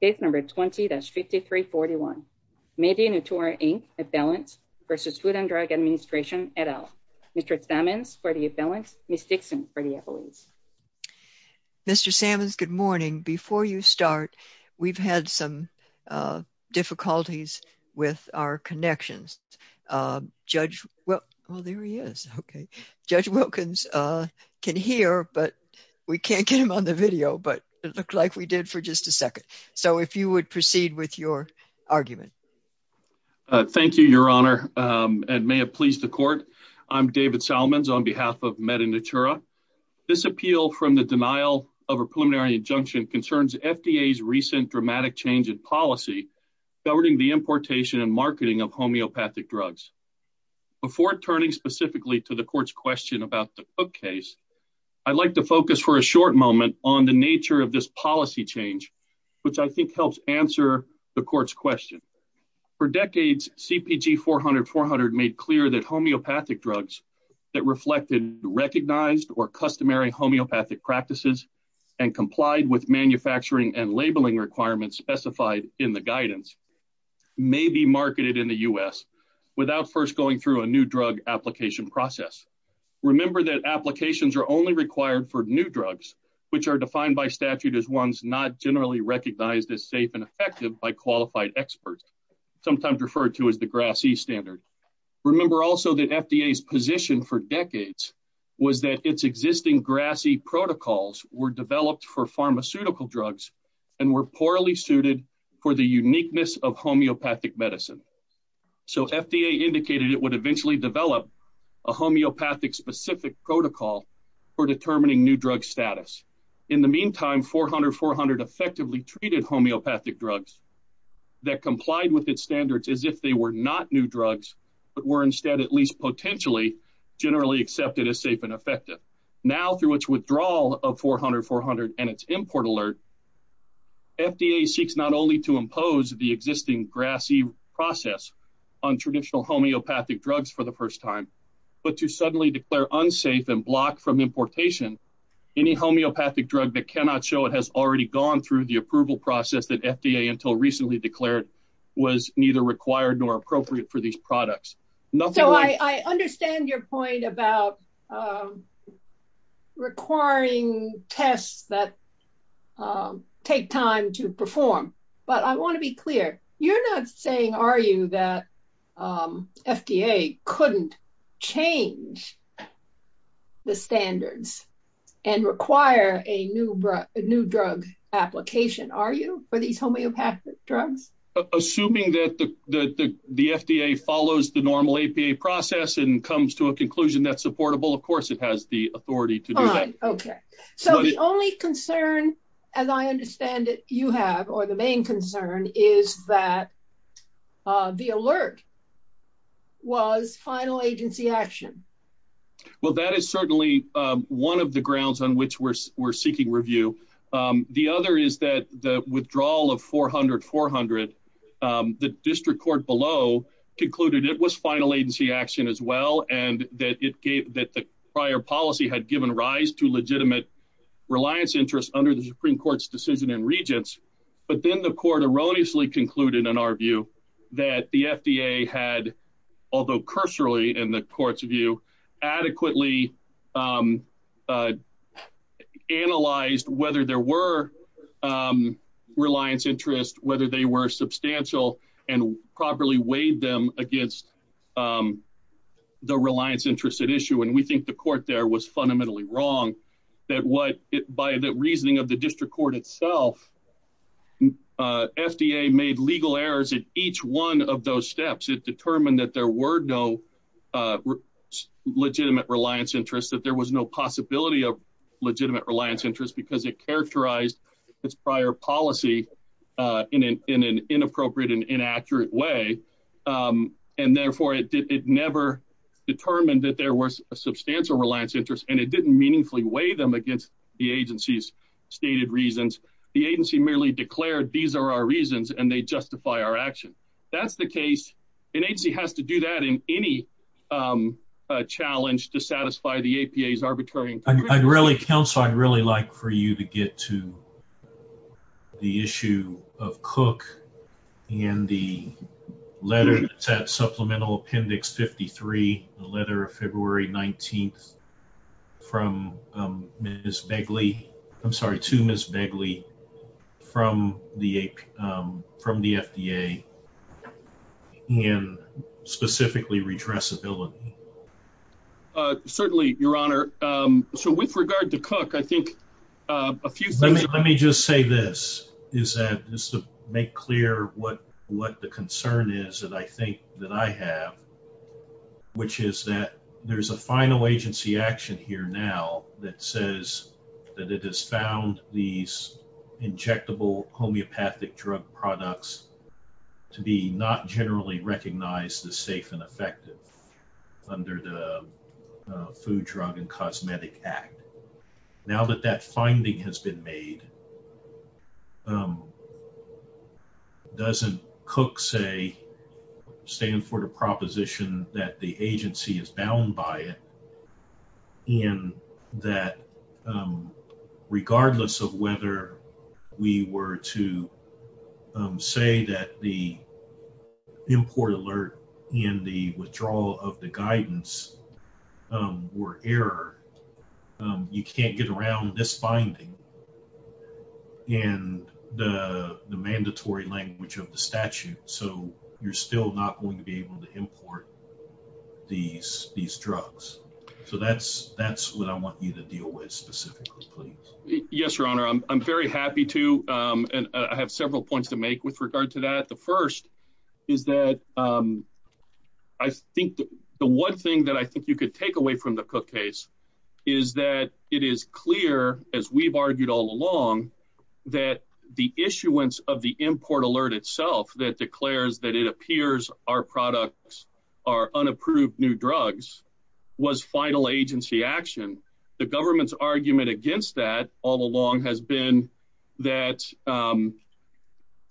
v. Food and Drug Administration, et al. Mr. Sammons for the appellants, Ms. Dixon for the appellants. Mr. Sammons, good morning. Before you start, we've had some difficulties with our connections. Judge Wilkins can hear, but we can't get him on the video, but it looked like we did for just a second. So if you would proceed with your argument. Thank you, Your Honor, and may it please the court. I'm David Salmons on behalf of MediNatura. This appeal from the denial of a preliminary injunction concerns FDA's recent dramatic change in policy governing the importation and marketing of homeopathic drugs. Before turning specifically to the court's question about the Cook case, I'd like to focus for a short moment on the nature of this policy change, which I think helps answer the court's question. For decades, CPG 400-400 made clear that homeopathic drugs that reflected recognized or customary homeopathic practices and complied with manufacturing and labeling requirements specified in the guidance may be marketed in the U.S. without first going through a new drug application process. Remember that applications are only required for new drugs, which are defined by statute as ones not generally recognized as safe and effective by qualified experts, sometimes referred to as the GRAS-E standard. Remember also that FDA's position for decades was that its existing GRAS-E protocols were developed for pharmaceutical drugs and were poorly suited for the uniqueness of homeopathic medicine. So FDA indicated it would eventually develop a homeopathic-specific protocol for determining new drug status. In the meantime, 400-400 effectively treated homeopathic drugs that complied with its standards as if they were not new drugs but were instead at least potentially generally accepted as safe and effective. Now, through its withdrawal of 400-400 and its import alert, FDA seeks not only to impose the existing GRAS-E process on traditional homeopathic drugs for the first time, but to suddenly declare unsafe and block from importation any homeopathic drug that cannot show it has already gone through the approval process that FDA until recently declared was neither required nor appropriate for these products. So I understand your point about requiring tests that take time to perform, but I want to be clear. You're not saying, are you, that FDA couldn't change the standards and require a new drug application, are you, for these homeopathic drugs? Assuming that the FDA follows the normal APA process and comes to a conclusion that's supportable, of course, it has the authority to do that. Okay. So the only concern, as I understand it, you have, or the main concern, is that the alert was final agency action. Well, that is certainly one of the grounds on which we're seeking review. The other is that the withdrawal of 400-400, the district court below concluded it was final agency action as well and that the prior policy had given rise to legitimate reliance interests under the Supreme Court's decision in Regents. But then the court erroneously concluded, in our view, that the FDA had, although cursorily in the court's view, adequately analyzed whether there were reliance interests, whether they were substantial, and properly weighed them against the reliance interests at issue. And we think the court there was fundamentally wrong that what, by the reasoning of the district court itself, FDA made legal errors at each one of those steps. It determined that there were no legitimate reliance interests, that there was no possibility of legitimate reliance interests because it characterized its prior policy in an inappropriate and inaccurate way. And therefore, it never determined that there was a substantial reliance interest and it didn't meaningfully weigh them against the agency's stated reasons. The agency merely declared these are our reasons and they justify our action. That's the case. An agency has to do that in any challenge to satisfy the APA's arbitrary conclusion. Counsel, I'd really like for you to get to the issue of Cook and the letter that's at supplemental appendix 53, the letter of February 19th from Ms. Begley. I'm sorry, to Ms. Begley from the FDA and specifically redressability. Certainly, Your Honor. So with regard to Cook, I think a few things. Let me just say this, just to make clear what the concern is that I think that I have, which is that there's a final agency action here now that says that it has found these injectable homeopathic drug products to be not generally recognized as safe and effective under the Food, Drug, and Cosmetic Act. Now that that finding has been made, doesn't Cook say stand for the proposition that the agency is bound by it and that regardless of whether we were to say that the import alert and the withdrawal of the guidance were error, you can't get around this finding and the mandatory language of the statute. So you're still not going to be able to import these drugs. So that's what I want you to deal with specifically, please. Yes, Your Honor. I'm very happy to. And I have several points to make with regard to that. The first is that I think the one thing that I think you could take away from the Cook case is that it is clear, as we've argued all along, that the issuance of the import alert itself that declares that it appears our products are unapproved new drugs was final agency action. The government's argument against that all along has been that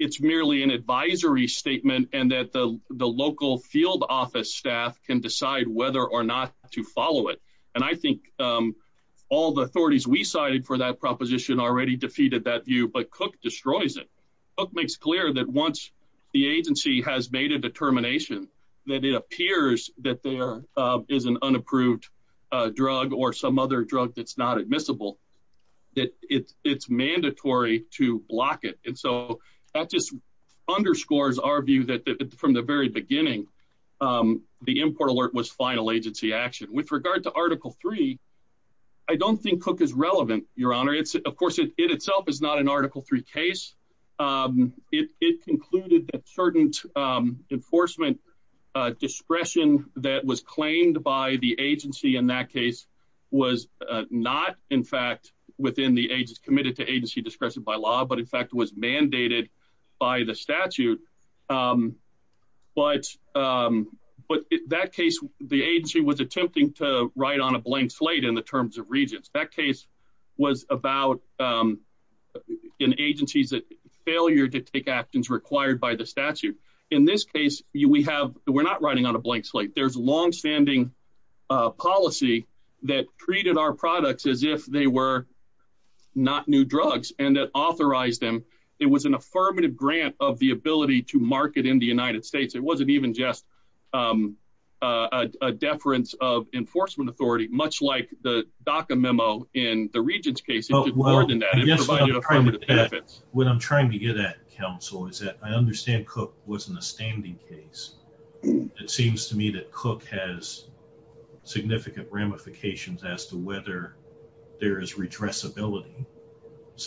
it's merely an advisory statement and that the local field office staff can decide whether or not to follow it. And I think all the authorities we cited for that proposition already defeated that view, but Cook destroys it. Cook makes clear that once the agency has made a determination that it appears that there is an unapproved drug or some other drug that's not admissible, that it's mandatory to block it. And so that just underscores our view that from the very beginning, the import alert was final agency action. With regard to Article 3, I don't think Cook is relevant, Your Honor. Of course, it itself is not an Article 3 case. It concluded that certain enforcement discretion that was claimed by the agency in that case was not, in fact, committed to agency discretion by law, but in fact was mandated by the statute. But in that case, the agency was attempting to write on a blank slate in the terms of regents. That case was about an agency's failure to take actions required by the statute. In this case, we're not writing on a blank slate. There's longstanding policy that treated our products as if they were not new drugs and that authorized them. It was an affirmative grant of the ability to market in the United States. It wasn't even just a deference of enforcement authority, much like the DACA memo in the regents' case. I guess what I'm trying to get at, counsel, is that I understand Cook wasn't a standing case. It seems to me that Cook has significant ramifications as to whether there is redressability.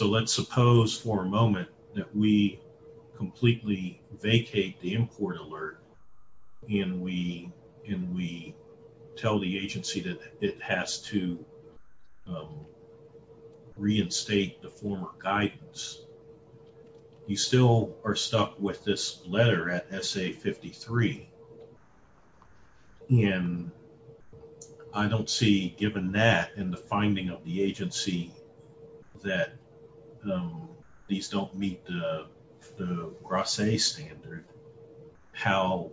Let's suppose for a moment that we completely vacate the import alert and we tell the agency that it has to reinstate the former guidance. You still are stuck with this letter at SA 53. And I don't see, given that and the finding of the agency that these don't meet the Grasse standard, how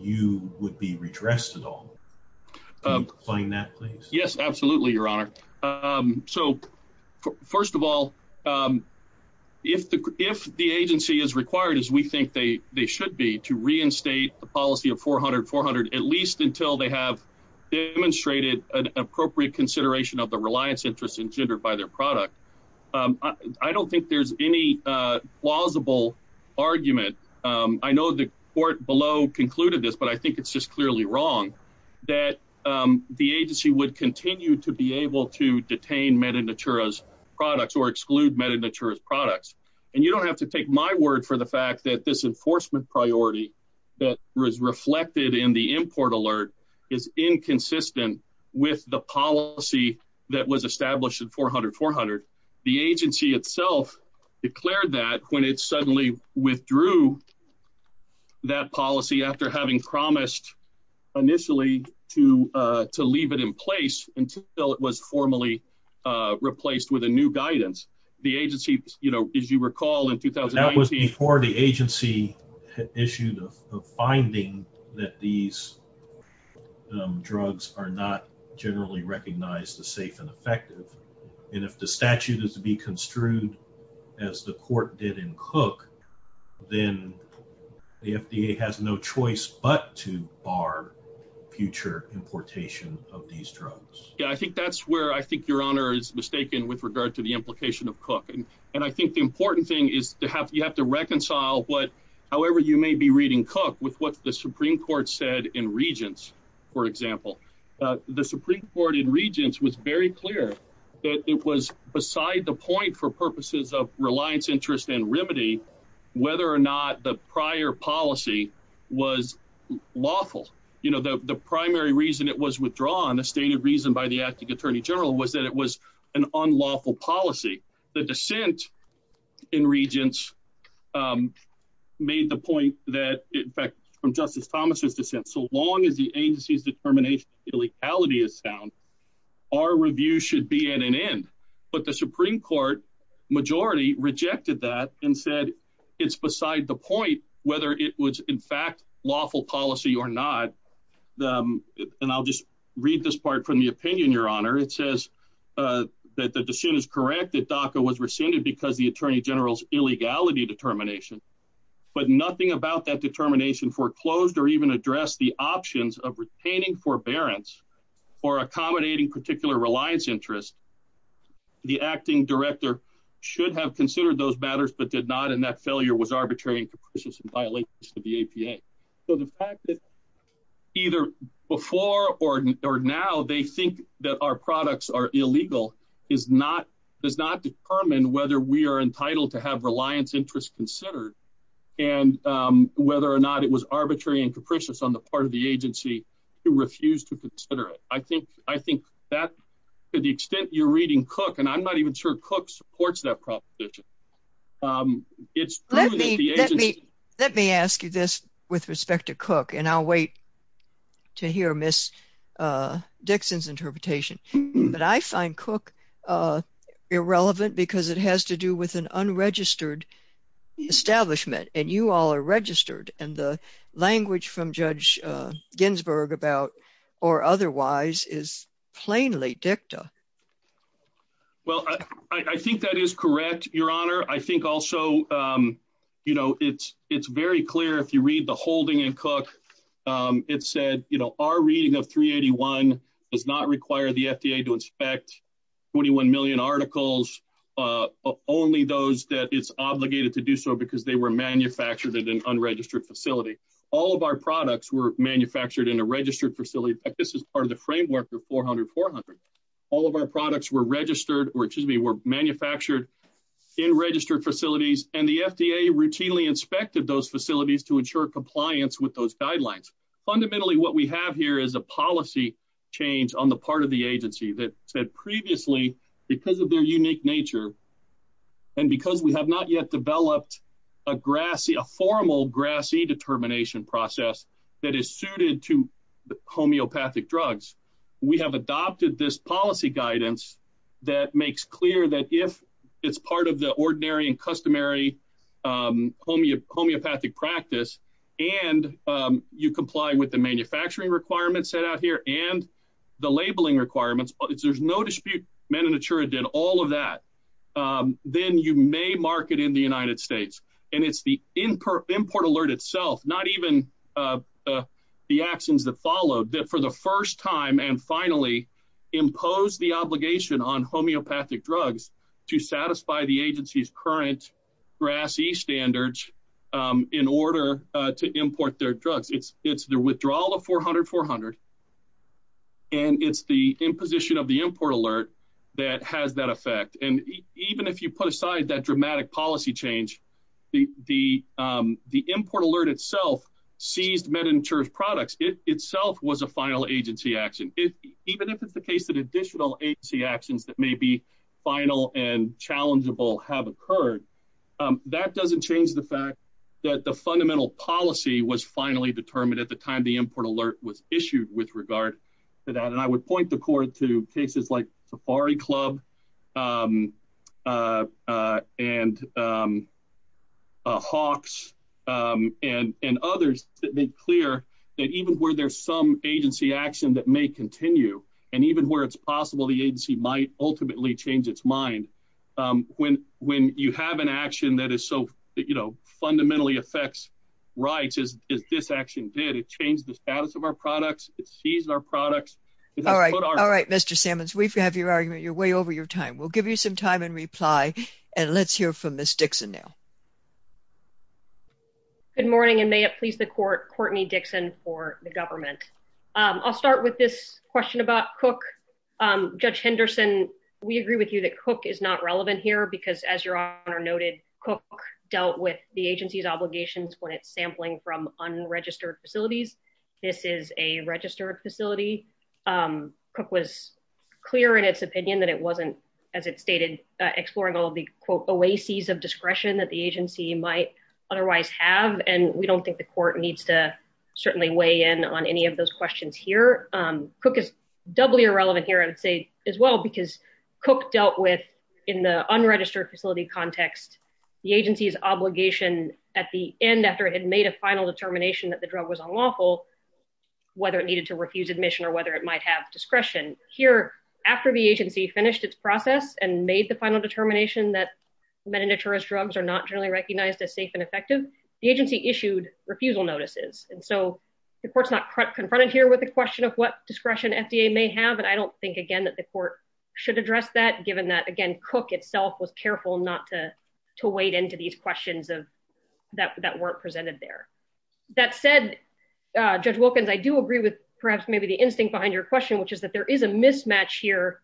you would be redressed at all. Can you explain that, please? Yes, absolutely, Your Honor. So, first of all, if the agency is required, as we think they should be, to reinstate the policy of 400-400, at least until they have demonstrated an appropriate consideration of the reliance interests engendered by their product, I don't think there's any plausible argument. I know the court below concluded this, but I think it's just clearly wrong that the agency would continue to be able to detain Meta Natura's products or exclude Meta Natura's products. And you don't have to take my word for the fact that this enforcement priority that was reflected in the import alert is inconsistent with the policy that was established in 400-400. The agency itself declared that when it suddenly withdrew that policy after having promised initially to leave it in place until it was formally replaced with a new guidance. The agency, as you recall, in 2018… That was before the agency issued a finding that these drugs are not generally recognized as safe and effective. And if the statute is to be construed as the court did in Cook, then the FDA has no choice but to bar future importation of these drugs. Yeah, I think that's where I think Your Honor is mistaken with regard to the implication of Cook. And I think the important thing is you have to reconcile what, however you may be reading Cook, with what the Supreme Court said in Regents, for example. The Supreme Court in Regents was very clear that it was beside the point for purposes of reliance, interest, and remedy whether or not the prior policy was lawful. You know, the primary reason it was withdrawn, the stated reason by the acting Attorney General, was that it was an unlawful policy. The dissent in Regents made the point that, in fact, from Justice Thomas' dissent, so long as the agency's determination of illegality is sound, our review should be at an end. But the Supreme Court majority rejected that and said it's beside the point whether it was, in fact, lawful policy or not. And I'll just read this part from the opinion, Your Honor. It says that the dissent is correct that DACA was rescinded because of the Attorney General's illegality determination. But nothing about that determination foreclosed or even addressed the options of retaining forbearance or accommodating particular reliance interest. The acting director should have considered those matters but did not, and that failure was arbitrary and capricious in violation of the APA. So the fact that either before or now they think that our products are illegal does not determine whether we are entitled to have reliance interest considered and whether or not it was arbitrary and capricious on the part of the agency to refuse to consider it. I think that to the extent you're reading Cook, and I'm not even sure Cook supports that proposition, it's true that the agency Let me ask you this with respect to Cook, and I'll wait to hear Ms. Dixon's interpretation. But I find Cook irrelevant because it has to do with an unregistered establishment, and you all are registered, and the language from Judge Ginsburg about or otherwise is plainly dicta. Well, I think that is correct, Your Honor. I think also, you know, it's very clear if you read the holding in Cook. It said, you know, our reading of 381 does not require the FDA to inspect 21 million articles, only those that it's obligated to do so because they were manufactured in an unregistered facility. All of our products were manufactured in a registered facility. This is part of the framework of 400-400. All of our products were registered, or excuse me, were manufactured in registered facilities, and the FDA routinely inspected those facilities to ensure compliance with those guidelines. Fundamentally, what we have here is a policy change on the part of the agency that said previously, because of their unique nature, and because we have not yet developed a formal GRAS-E determination process that is suited to homeopathic drugs, we have adopted this policy guidance that makes clear that if it's part of the ordinary and customary homeopathic practice, and you comply with the manufacturing requirements set out here and the labeling requirements, but there's no dispute, Manitoura did all of that, then you may market in the United States, and it's the import alert itself, not even the actions that followed, that for the first time and finally imposed the obligation on homeopathic drugs to satisfy the agency's current GRAS-E standards in order to import their drugs. It's the withdrawal of 400-400, and it's the imposition of the import alert that has that effect. And even if you put aside that dramatic policy change, the import alert itself seized Manitoura's products. It itself was a final agency action. Even if it's the case that additional agency actions that may be final and challengeable have occurred, that doesn't change the fact that the fundamental policy was finally determined at the time the import alert was issued with regard to that. And I would point the court to cases like Safari Club and Hawks and others that make clear that even where there's some agency action that may continue, and even where it's possible the agency might ultimately change its mind, when you have an action that fundamentally affects rights, as this action did, it changed the status of our products. All right, Mr. Sammons, we have your argument. You're way over your time. We'll give you some time and reply. And let's hear from Ms. Dixon now. Good morning, and may it please the court, Courtney Dixon for the government. I'll start with this question about Cook. Judge Henderson, we agree with you that Cook is not relevant here because, as your Honor noted, Cook dealt with the agency's obligations when it's sampling from unregistered facilities. This is a registered facility. Cook was clear in its opinion that it wasn't, as it stated, exploring all the, quote, oases of discretion that the agency might otherwise have, and we don't think the court needs to certainly weigh in on any of those questions here. Cook is doubly irrelevant here, I would say, as well, because Cook dealt with, in the unregistered facility context, the agency's obligation at the end, after it had made a final determination that the drug was unlawful, whether it needed to refuse admission or whether it might have discretion. Here, after the agency finished its process and made the final determination that meditators drugs are not generally recognized as safe and effective, the agency issued refusal notices. And so the court's not confronted here with the question of what discretion FDA may have, and I don't think, again, that the court should address that, given that, again, Cook itself was careful not to wade into these questions that weren't presented there. That said, Judge Wilkins, I do agree with perhaps maybe the instinct behind your question, which is that there is a mismatch here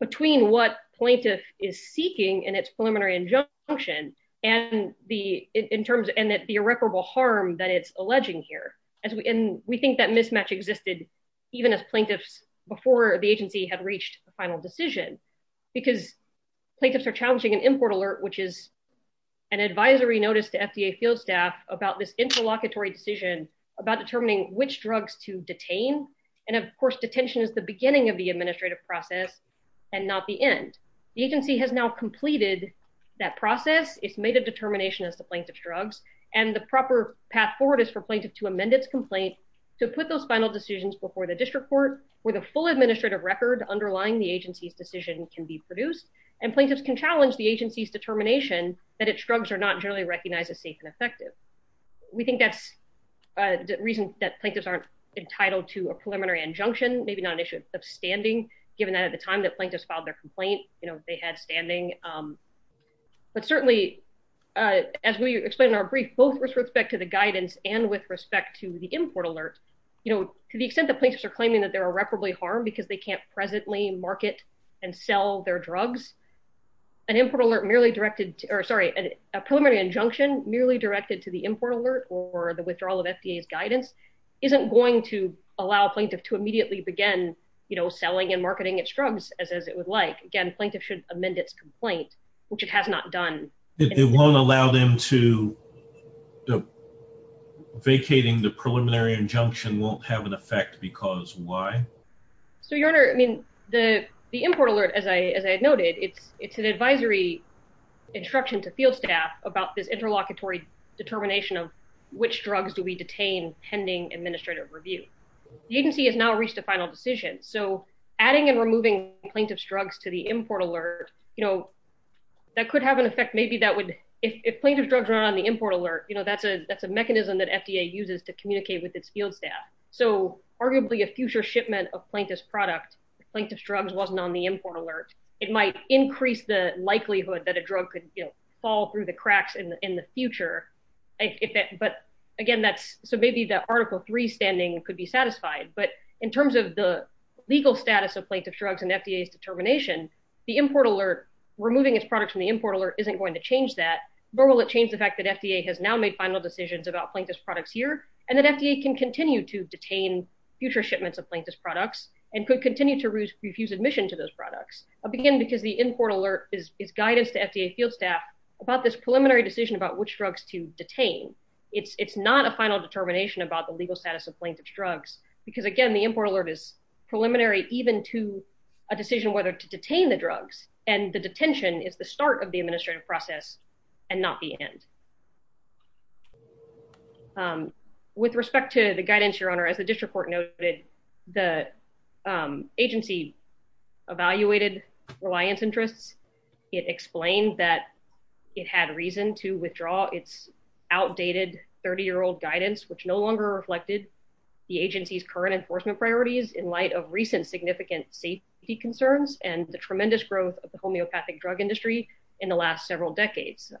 between what plaintiff is seeking in its preliminary injunction and the irreparable harm that it's alleging here. And we think that mismatch existed even as plaintiffs before the agency had reached a final decision, because plaintiffs are challenging an import alert, which is an advisory notice to FDA field staff about this interlocutory decision about determining which drugs to detain. And of course, detention is the beginning of the administrative process and not the end. The agency has now completed that process. It's made a determination as to plaintiff's drugs. And the proper path forward is for plaintiff to amend its complaint to put those final decisions before the district court where the full administrative record underlying the agency's decision can be produced. And plaintiffs can challenge the agency's determination that its drugs are not generally recognized as safe and effective. We think that's the reason that plaintiffs aren't entitled to a preliminary injunction, maybe not an issue of standing, given that at the time that plaintiffs filed their complaint, you know, they had standing. But certainly, as we explained in our brief, both with respect to the guidance and with respect to the import alert, you know, to the extent that plaintiffs are claiming that they're irreparably harmed because they can't presently market and sell their drugs, a preliminary injunction merely directed to the import alert or the withdrawal of FDA's guidance isn't going to allow plaintiff to immediately begin, you know, selling and marketing its drugs as it would like. Again, plaintiff should amend its complaint, which it has not done. It won't allow them to vacating the preliminary injunction won't have an effect because why? So, Your Honor, I mean, the import alert, as I noted, it's an advisory instruction to field staff about this interlocutory determination of which drugs do we detain pending administrative review. The agency has now reached a final decision. So, adding and removing plaintiff's drugs to the import alert, you know, that could have an effect maybe that would, if plaintiff's drugs were on the import alert, you know, that's a mechanism that FDA uses to communicate with its field staff. So, arguably a future shipment of plaintiff's product, plaintiff's drugs wasn't on the import alert, it might increase the likelihood that a drug could fall through the cracks in the future. But again, that's so maybe that Article 3 standing could be satisfied, but in terms of the legal status of plaintiff's drugs and FDA's determination, the import alert, removing its products from the import alert isn't going to change that. Nor will it change the fact that FDA has now made final decisions about plaintiff's products here and that FDA can continue to detain future shipments of plaintiff's products and could continue to refuse admission to those products. Again, because the import alert is guidance to FDA field staff about this preliminary decision about which drugs to detain. It's not a final determination about the legal status of plaintiff's drugs. Because again, the import alert is preliminary even to a decision whether to detain the drugs and the detention is the start of the administrative process and not the end. With respect to the guidance, Your Honor, as the district court noted, the agency evaluated reliance interests. It explained that it had reason to withdraw its outdated 30-year-old guidance, which no longer reflected the agency's current enforcement priorities in light of recent significant safety concerns and the tremendous growth of the homeopathic drug industry in the last several decades.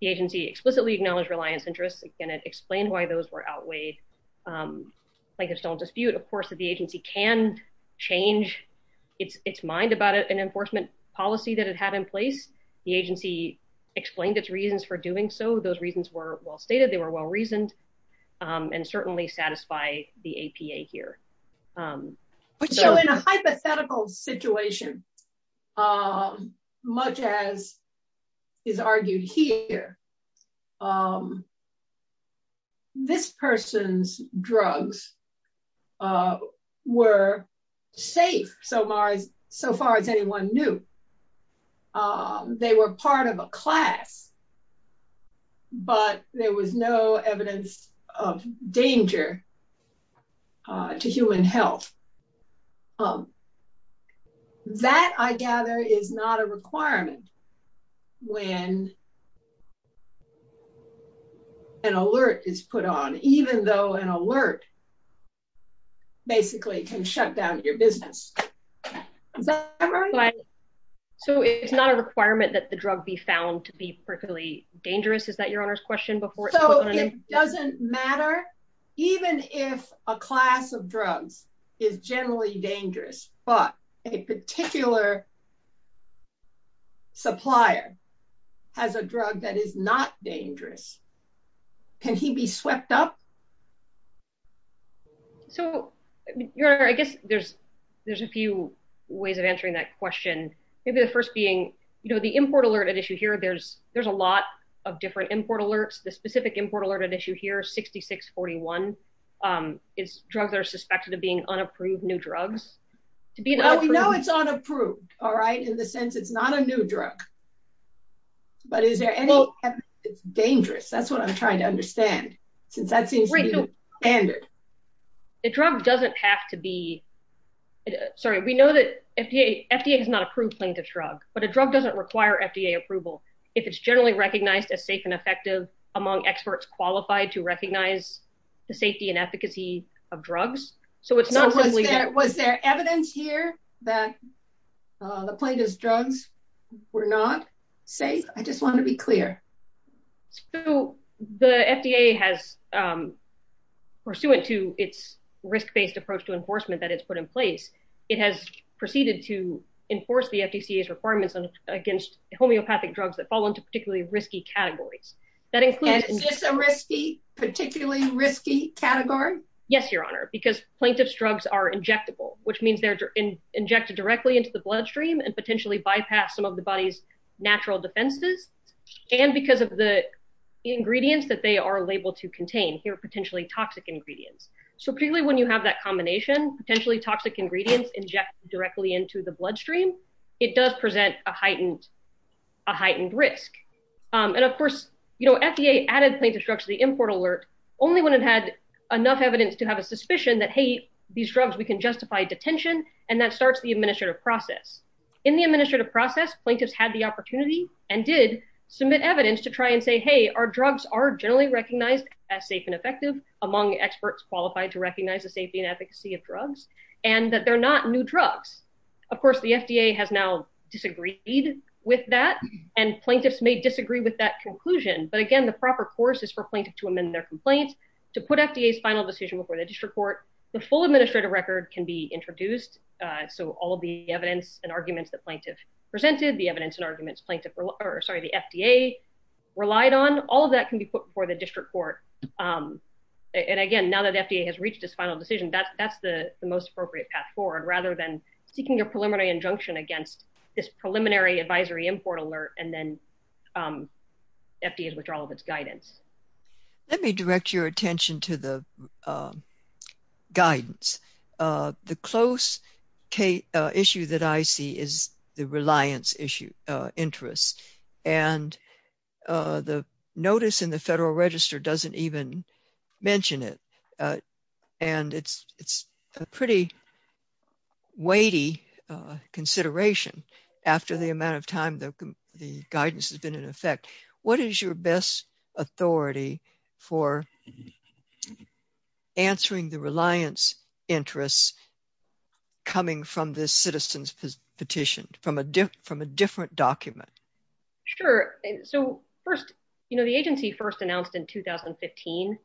The agency explicitly acknowledged reliance interests. Again, it explained why those were outweighed. Plaintiff's don't dispute, of course, that the agency can change its mind about an enforcement policy that it had in place. The agency explained its reasons for doing so. Those reasons were well stated. They were well reasoned and certainly satisfy the APA here. So in a hypothetical situation, much as is argued here, this person's drugs were safe so far as anyone knew. They were part of a class, but there was no evidence of danger to human health. That, I gather, is not a requirement when an alert is put on, even though an alert basically can shut down your business. Is that right? So it's not a requirement that the drug be found to be particularly dangerous? Is that your Honor's question? So it doesn't matter? Even if a class of drugs is generally dangerous, but a particular supplier has a drug that is not dangerous, can he be swept up? So, Your Honor, I guess there's a few ways of answering that question. Maybe the first being, you know, the import alert at issue here, there's a lot of different import alerts. The specific import alert at issue here, 6641, is drugs that are suspected of being unapproved new drugs. Well, we know it's unapproved, all right, in the sense it's not a new drug. But is there any evidence that it's dangerous? That's what I'm trying to understand, since that seems to be the standard. The drug doesn't have to be, sorry, we know that FDA has not approved plaintiff's drug, but a drug doesn't require FDA approval if it's generally recognized as safe and effective among experts qualified to recognize the safety and efficacy of drugs. So was there evidence here that the plaintiff's drugs were not safe? I just want to be clear. So the FDA has, pursuant to its risk-based approach to enforcement that it's put in place, it has proceeded to enforce the FDCA's requirements against homeopathic drugs that fall into particularly risky categories. Is this a particularly risky category? Yes, Your Honor, because plaintiff's drugs are injectable, which means they're injected directly into the bloodstream and potentially bypass some of the body's natural defenses. And because of the ingredients that they are labeled to contain, here are potentially toxic ingredients. So particularly when you have that combination, potentially toxic ingredients injected directly into the bloodstream, it does present a heightened risk. And of course, FDA added plaintiff's drugs to the import alert only when it had enough evidence to have a suspicion that, hey, these drugs, we can justify detention, and that starts the administrative process. In the administrative process, plaintiffs had the opportunity and did submit evidence to try and say, hey, our drugs are generally recognized as safe and effective among experts qualified to recognize the safety and efficacy of drugs, and that they're not new drugs. Of course, the FDA has now disagreed with that, and plaintiffs may disagree with that conclusion. But again, the proper course is for plaintiff to amend their complaints, to put FDA's final decision before the district court. The full administrative record can be introduced. So all of the evidence and arguments that plaintiff presented, the evidence and arguments plaintiff, or sorry, the FDA relied on, all of that can be put before the district court. And again, now that FDA has reached its final decision, that's the most appropriate path forward, rather than seeking a preliminary injunction against this preliminary advisory import alert, and then FDA's withdrawal of its guidance. Let me direct your attention to the guidance. The close issue that I see is the reliance issue, interest, and the notice in the Federal Register doesn't even mention it. And it's a pretty weighty consideration after the amount of time the guidance has been in effect. What is your best authority for answering the reliance interests coming from this citizen's petition, from a different document? Sure. So, first, you know, the agency first announced in 2015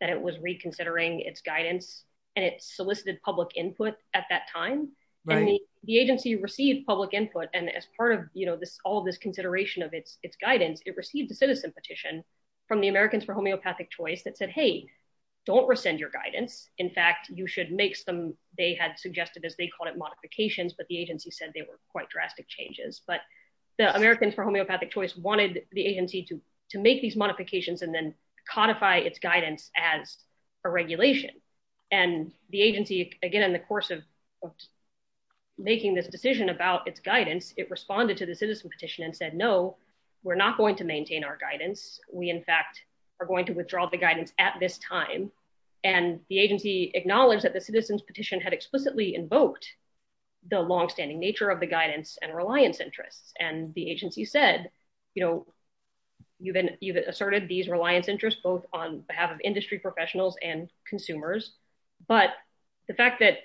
that it was reconsidering its guidance, and it solicited public input at that time. The agency received public input and as part of, you know, this all this consideration of its guidance, it received a citizen petition from the Americans for Homeopathic Choice that said, hey, don't rescind your guidance. In fact, you should make some, they had suggested, as they called it, modifications, but the agency said they were quite drastic changes. But the Americans for Homeopathic Choice wanted the agency to make these modifications and then codify its guidance as a regulation. And the agency, again, in the course of making this decision about its guidance, it responded to the citizen petition and said, no, we're not going to maintain our guidance. We, in fact, are going to withdraw the guidance at this time. And the agency acknowledged that the citizen's petition had explicitly invoked the longstanding nature of the guidance and reliance interests. And the agency said, you know, you've asserted these reliance interests, both on behalf of industry professionals and consumers. But the fact that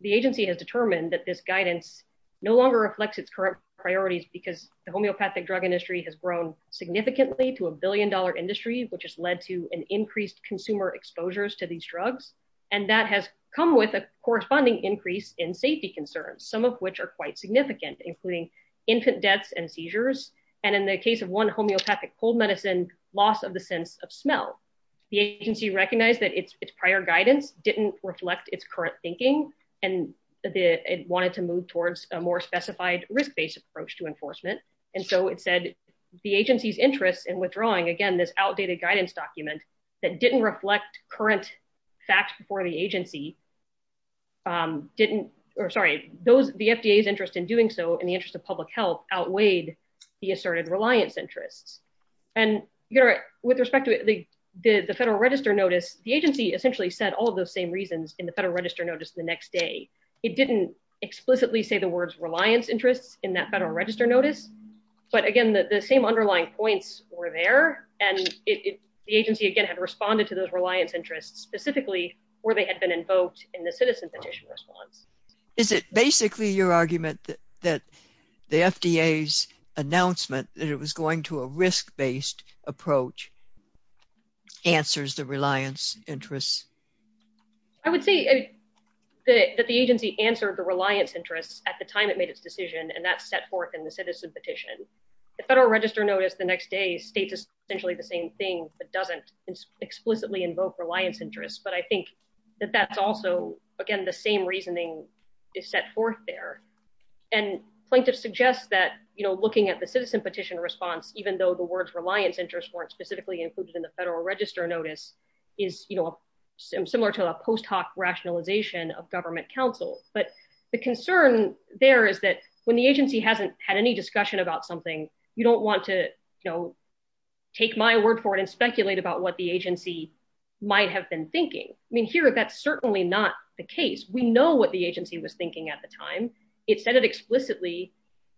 the agency has determined that this guidance no longer reflects its current priorities because the homeopathic drug industry has grown significantly to a billion dollar industry, which has led to an increased consumer exposures to these drugs. And that has come with a corresponding increase in safety concerns, some of which are quite significant, including infant deaths and seizures. And in the case of one homeopathic cold medicine, loss of the sense of smell. The agency recognized that its prior guidance didn't reflect its current thinking, and it wanted to move towards a more specified risk-based approach to enforcement. And so it said the agency's interest in withdrawing, again, this outdated guidance document that didn't reflect current facts before the agency didn't, or sorry, those, the FDA's interest in doing so in the interest of public health outweighed the asserted reliance interests. And with respect to the Federal Register Notice, the agency essentially said all of those same reasons in the Federal Register Notice the next day. It didn't explicitly say the words reliance interests in that Federal Register Notice. But again, the same underlying points were there. And the agency, again, had responded to those reliance interests specifically where they had been invoked in the citizen petition response. Is it basically your argument that the FDA's announcement that it was going to a risk-based approach answers the reliance interests? I would say that the agency answered the reliance interests at the time it made its decision, and that's set forth in the citizen petition. The Federal Register Notice the next day states essentially the same thing, but doesn't explicitly invoke reliance interests. But I think that that's also, again, the same reasoning is set forth there. And plaintiffs suggest that, you know, looking at the citizen petition response, even though the words reliance interests weren't specifically included in the Federal Register Notice, is, you know, similar to a post hoc rationalization of government counsel. But the concern there is that when the agency hasn't had any discussion about something, you don't want to, you know, take my word for it and speculate about what the agency might have been thinking. I mean, here, that's certainly not the case. We know what the agency was thinking at the time. It said it explicitly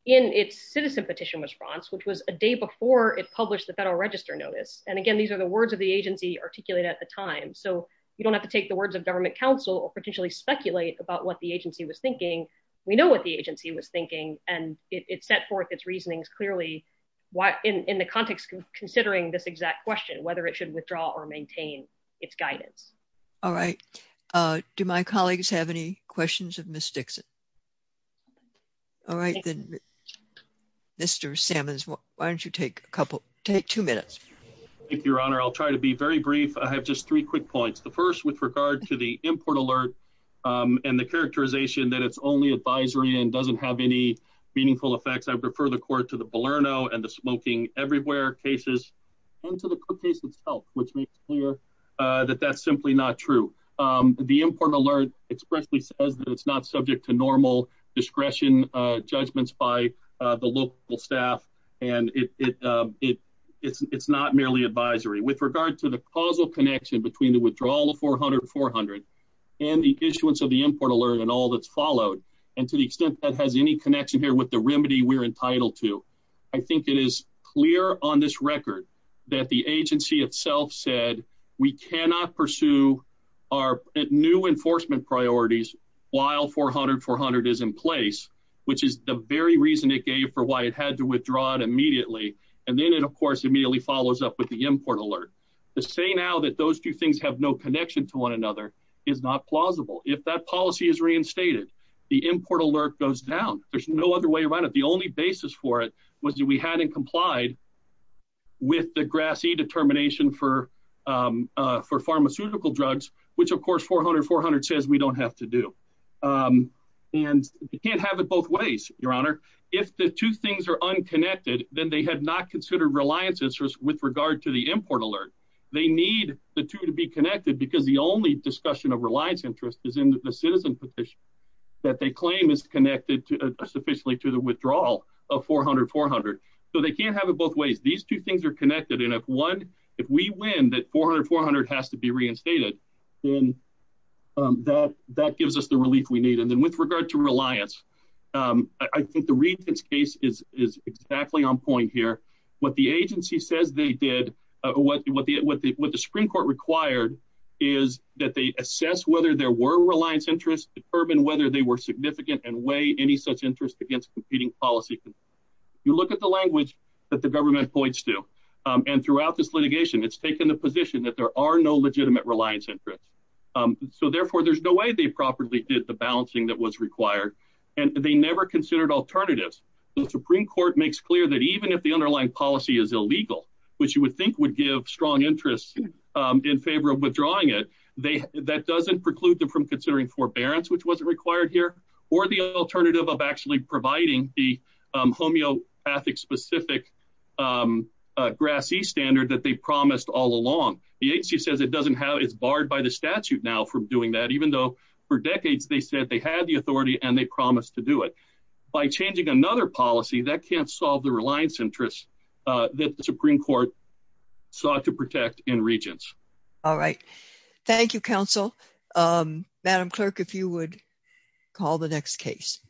in its citizen petition response, which was a day before it published the Federal Register Notice. And again, these are the words of the agency articulated at the time. So you don't have to take the words of government counsel or potentially speculate about what the agency was thinking. We know what the agency was thinking, and it set forth its reasonings clearly in the context of considering this exact question, whether it should withdraw or maintain its guidance. All right. Do my colleagues have any questions of Ms. Dixon? All right. Mr. Sammons, why don't you take a couple, take two minutes. Thank you, Your Honor. I'll try to be very brief. I have just three quick points. The first with regard to the import alert and the characterization that it's only advisory and doesn't have any meaningful effects. I refer the court to the Balerno and the Smoking Everywhere cases and to the court case itself, which makes clear that that's simply not true. The import alert expressly says that it's not subject to normal discretion judgments by the local staff, and it's not merely advisory. With regard to the causal connection between the withdrawal of 400-400 and the issuance of the import alert and all that's followed, and to the extent that has any connection here with the remedy we're entitled to, I think it is clear on this record that the agency itself said we cannot pursue our new enforcement priorities while 400-400 is in place, which is the very reason it gave for why it had to withdraw it immediately, and then it, of course, immediately follows up with the import alert. The saying now that those two things have no connection to one another is not plausible. If that policy is reinstated, the import alert goes down. There's no other way around it. The only basis for it was that we hadn't complied with the GRAS E determination for pharmaceutical drugs, which, of course, 400-400 says we don't have to do. We can't have it both ways, Your Honor. If the two things are unconnected, then they have not considered reliance interest with regard to the import alert. They need the two to be connected because the only discussion of reliance interest is in the citizen petition that they claim is connected sufficiently to the withdrawal of 400-400. So they can't have it both ways. These two things are connected, and if we win that 400-400 has to be reinstated, then that gives us the relief we need. And then with regard to reliance, I think the Regents' case is exactly on point here. What the agency says they did, what the Supreme Court required is that they assess whether there were reliance interest, determine whether they were significant, and weigh any such interest against competing policy. You look at the language that the government points to, and throughout this litigation, it's taken the position that there are no legitimate reliance interest. So, therefore, there's no way they properly did the balancing that was required, and they never considered alternatives. The Supreme Court makes clear that even if the underlying policy is illegal, which you would think would give strong interest in favor of withdrawing it, that doesn't preclude them from considering forbearance, which wasn't required here, or the alternative of actually providing the homeopathic-specific GRAS-E standard that they promised all along. The agency says it's barred by the statute now from doing that, even though for decades they said they had the authority and they promised to do it. By changing another policy, that can't solve the reliance interest that the Supreme Court sought to protect in Regents. All right. Thank you, Counsel. Madam Clerk, if you would call the next case.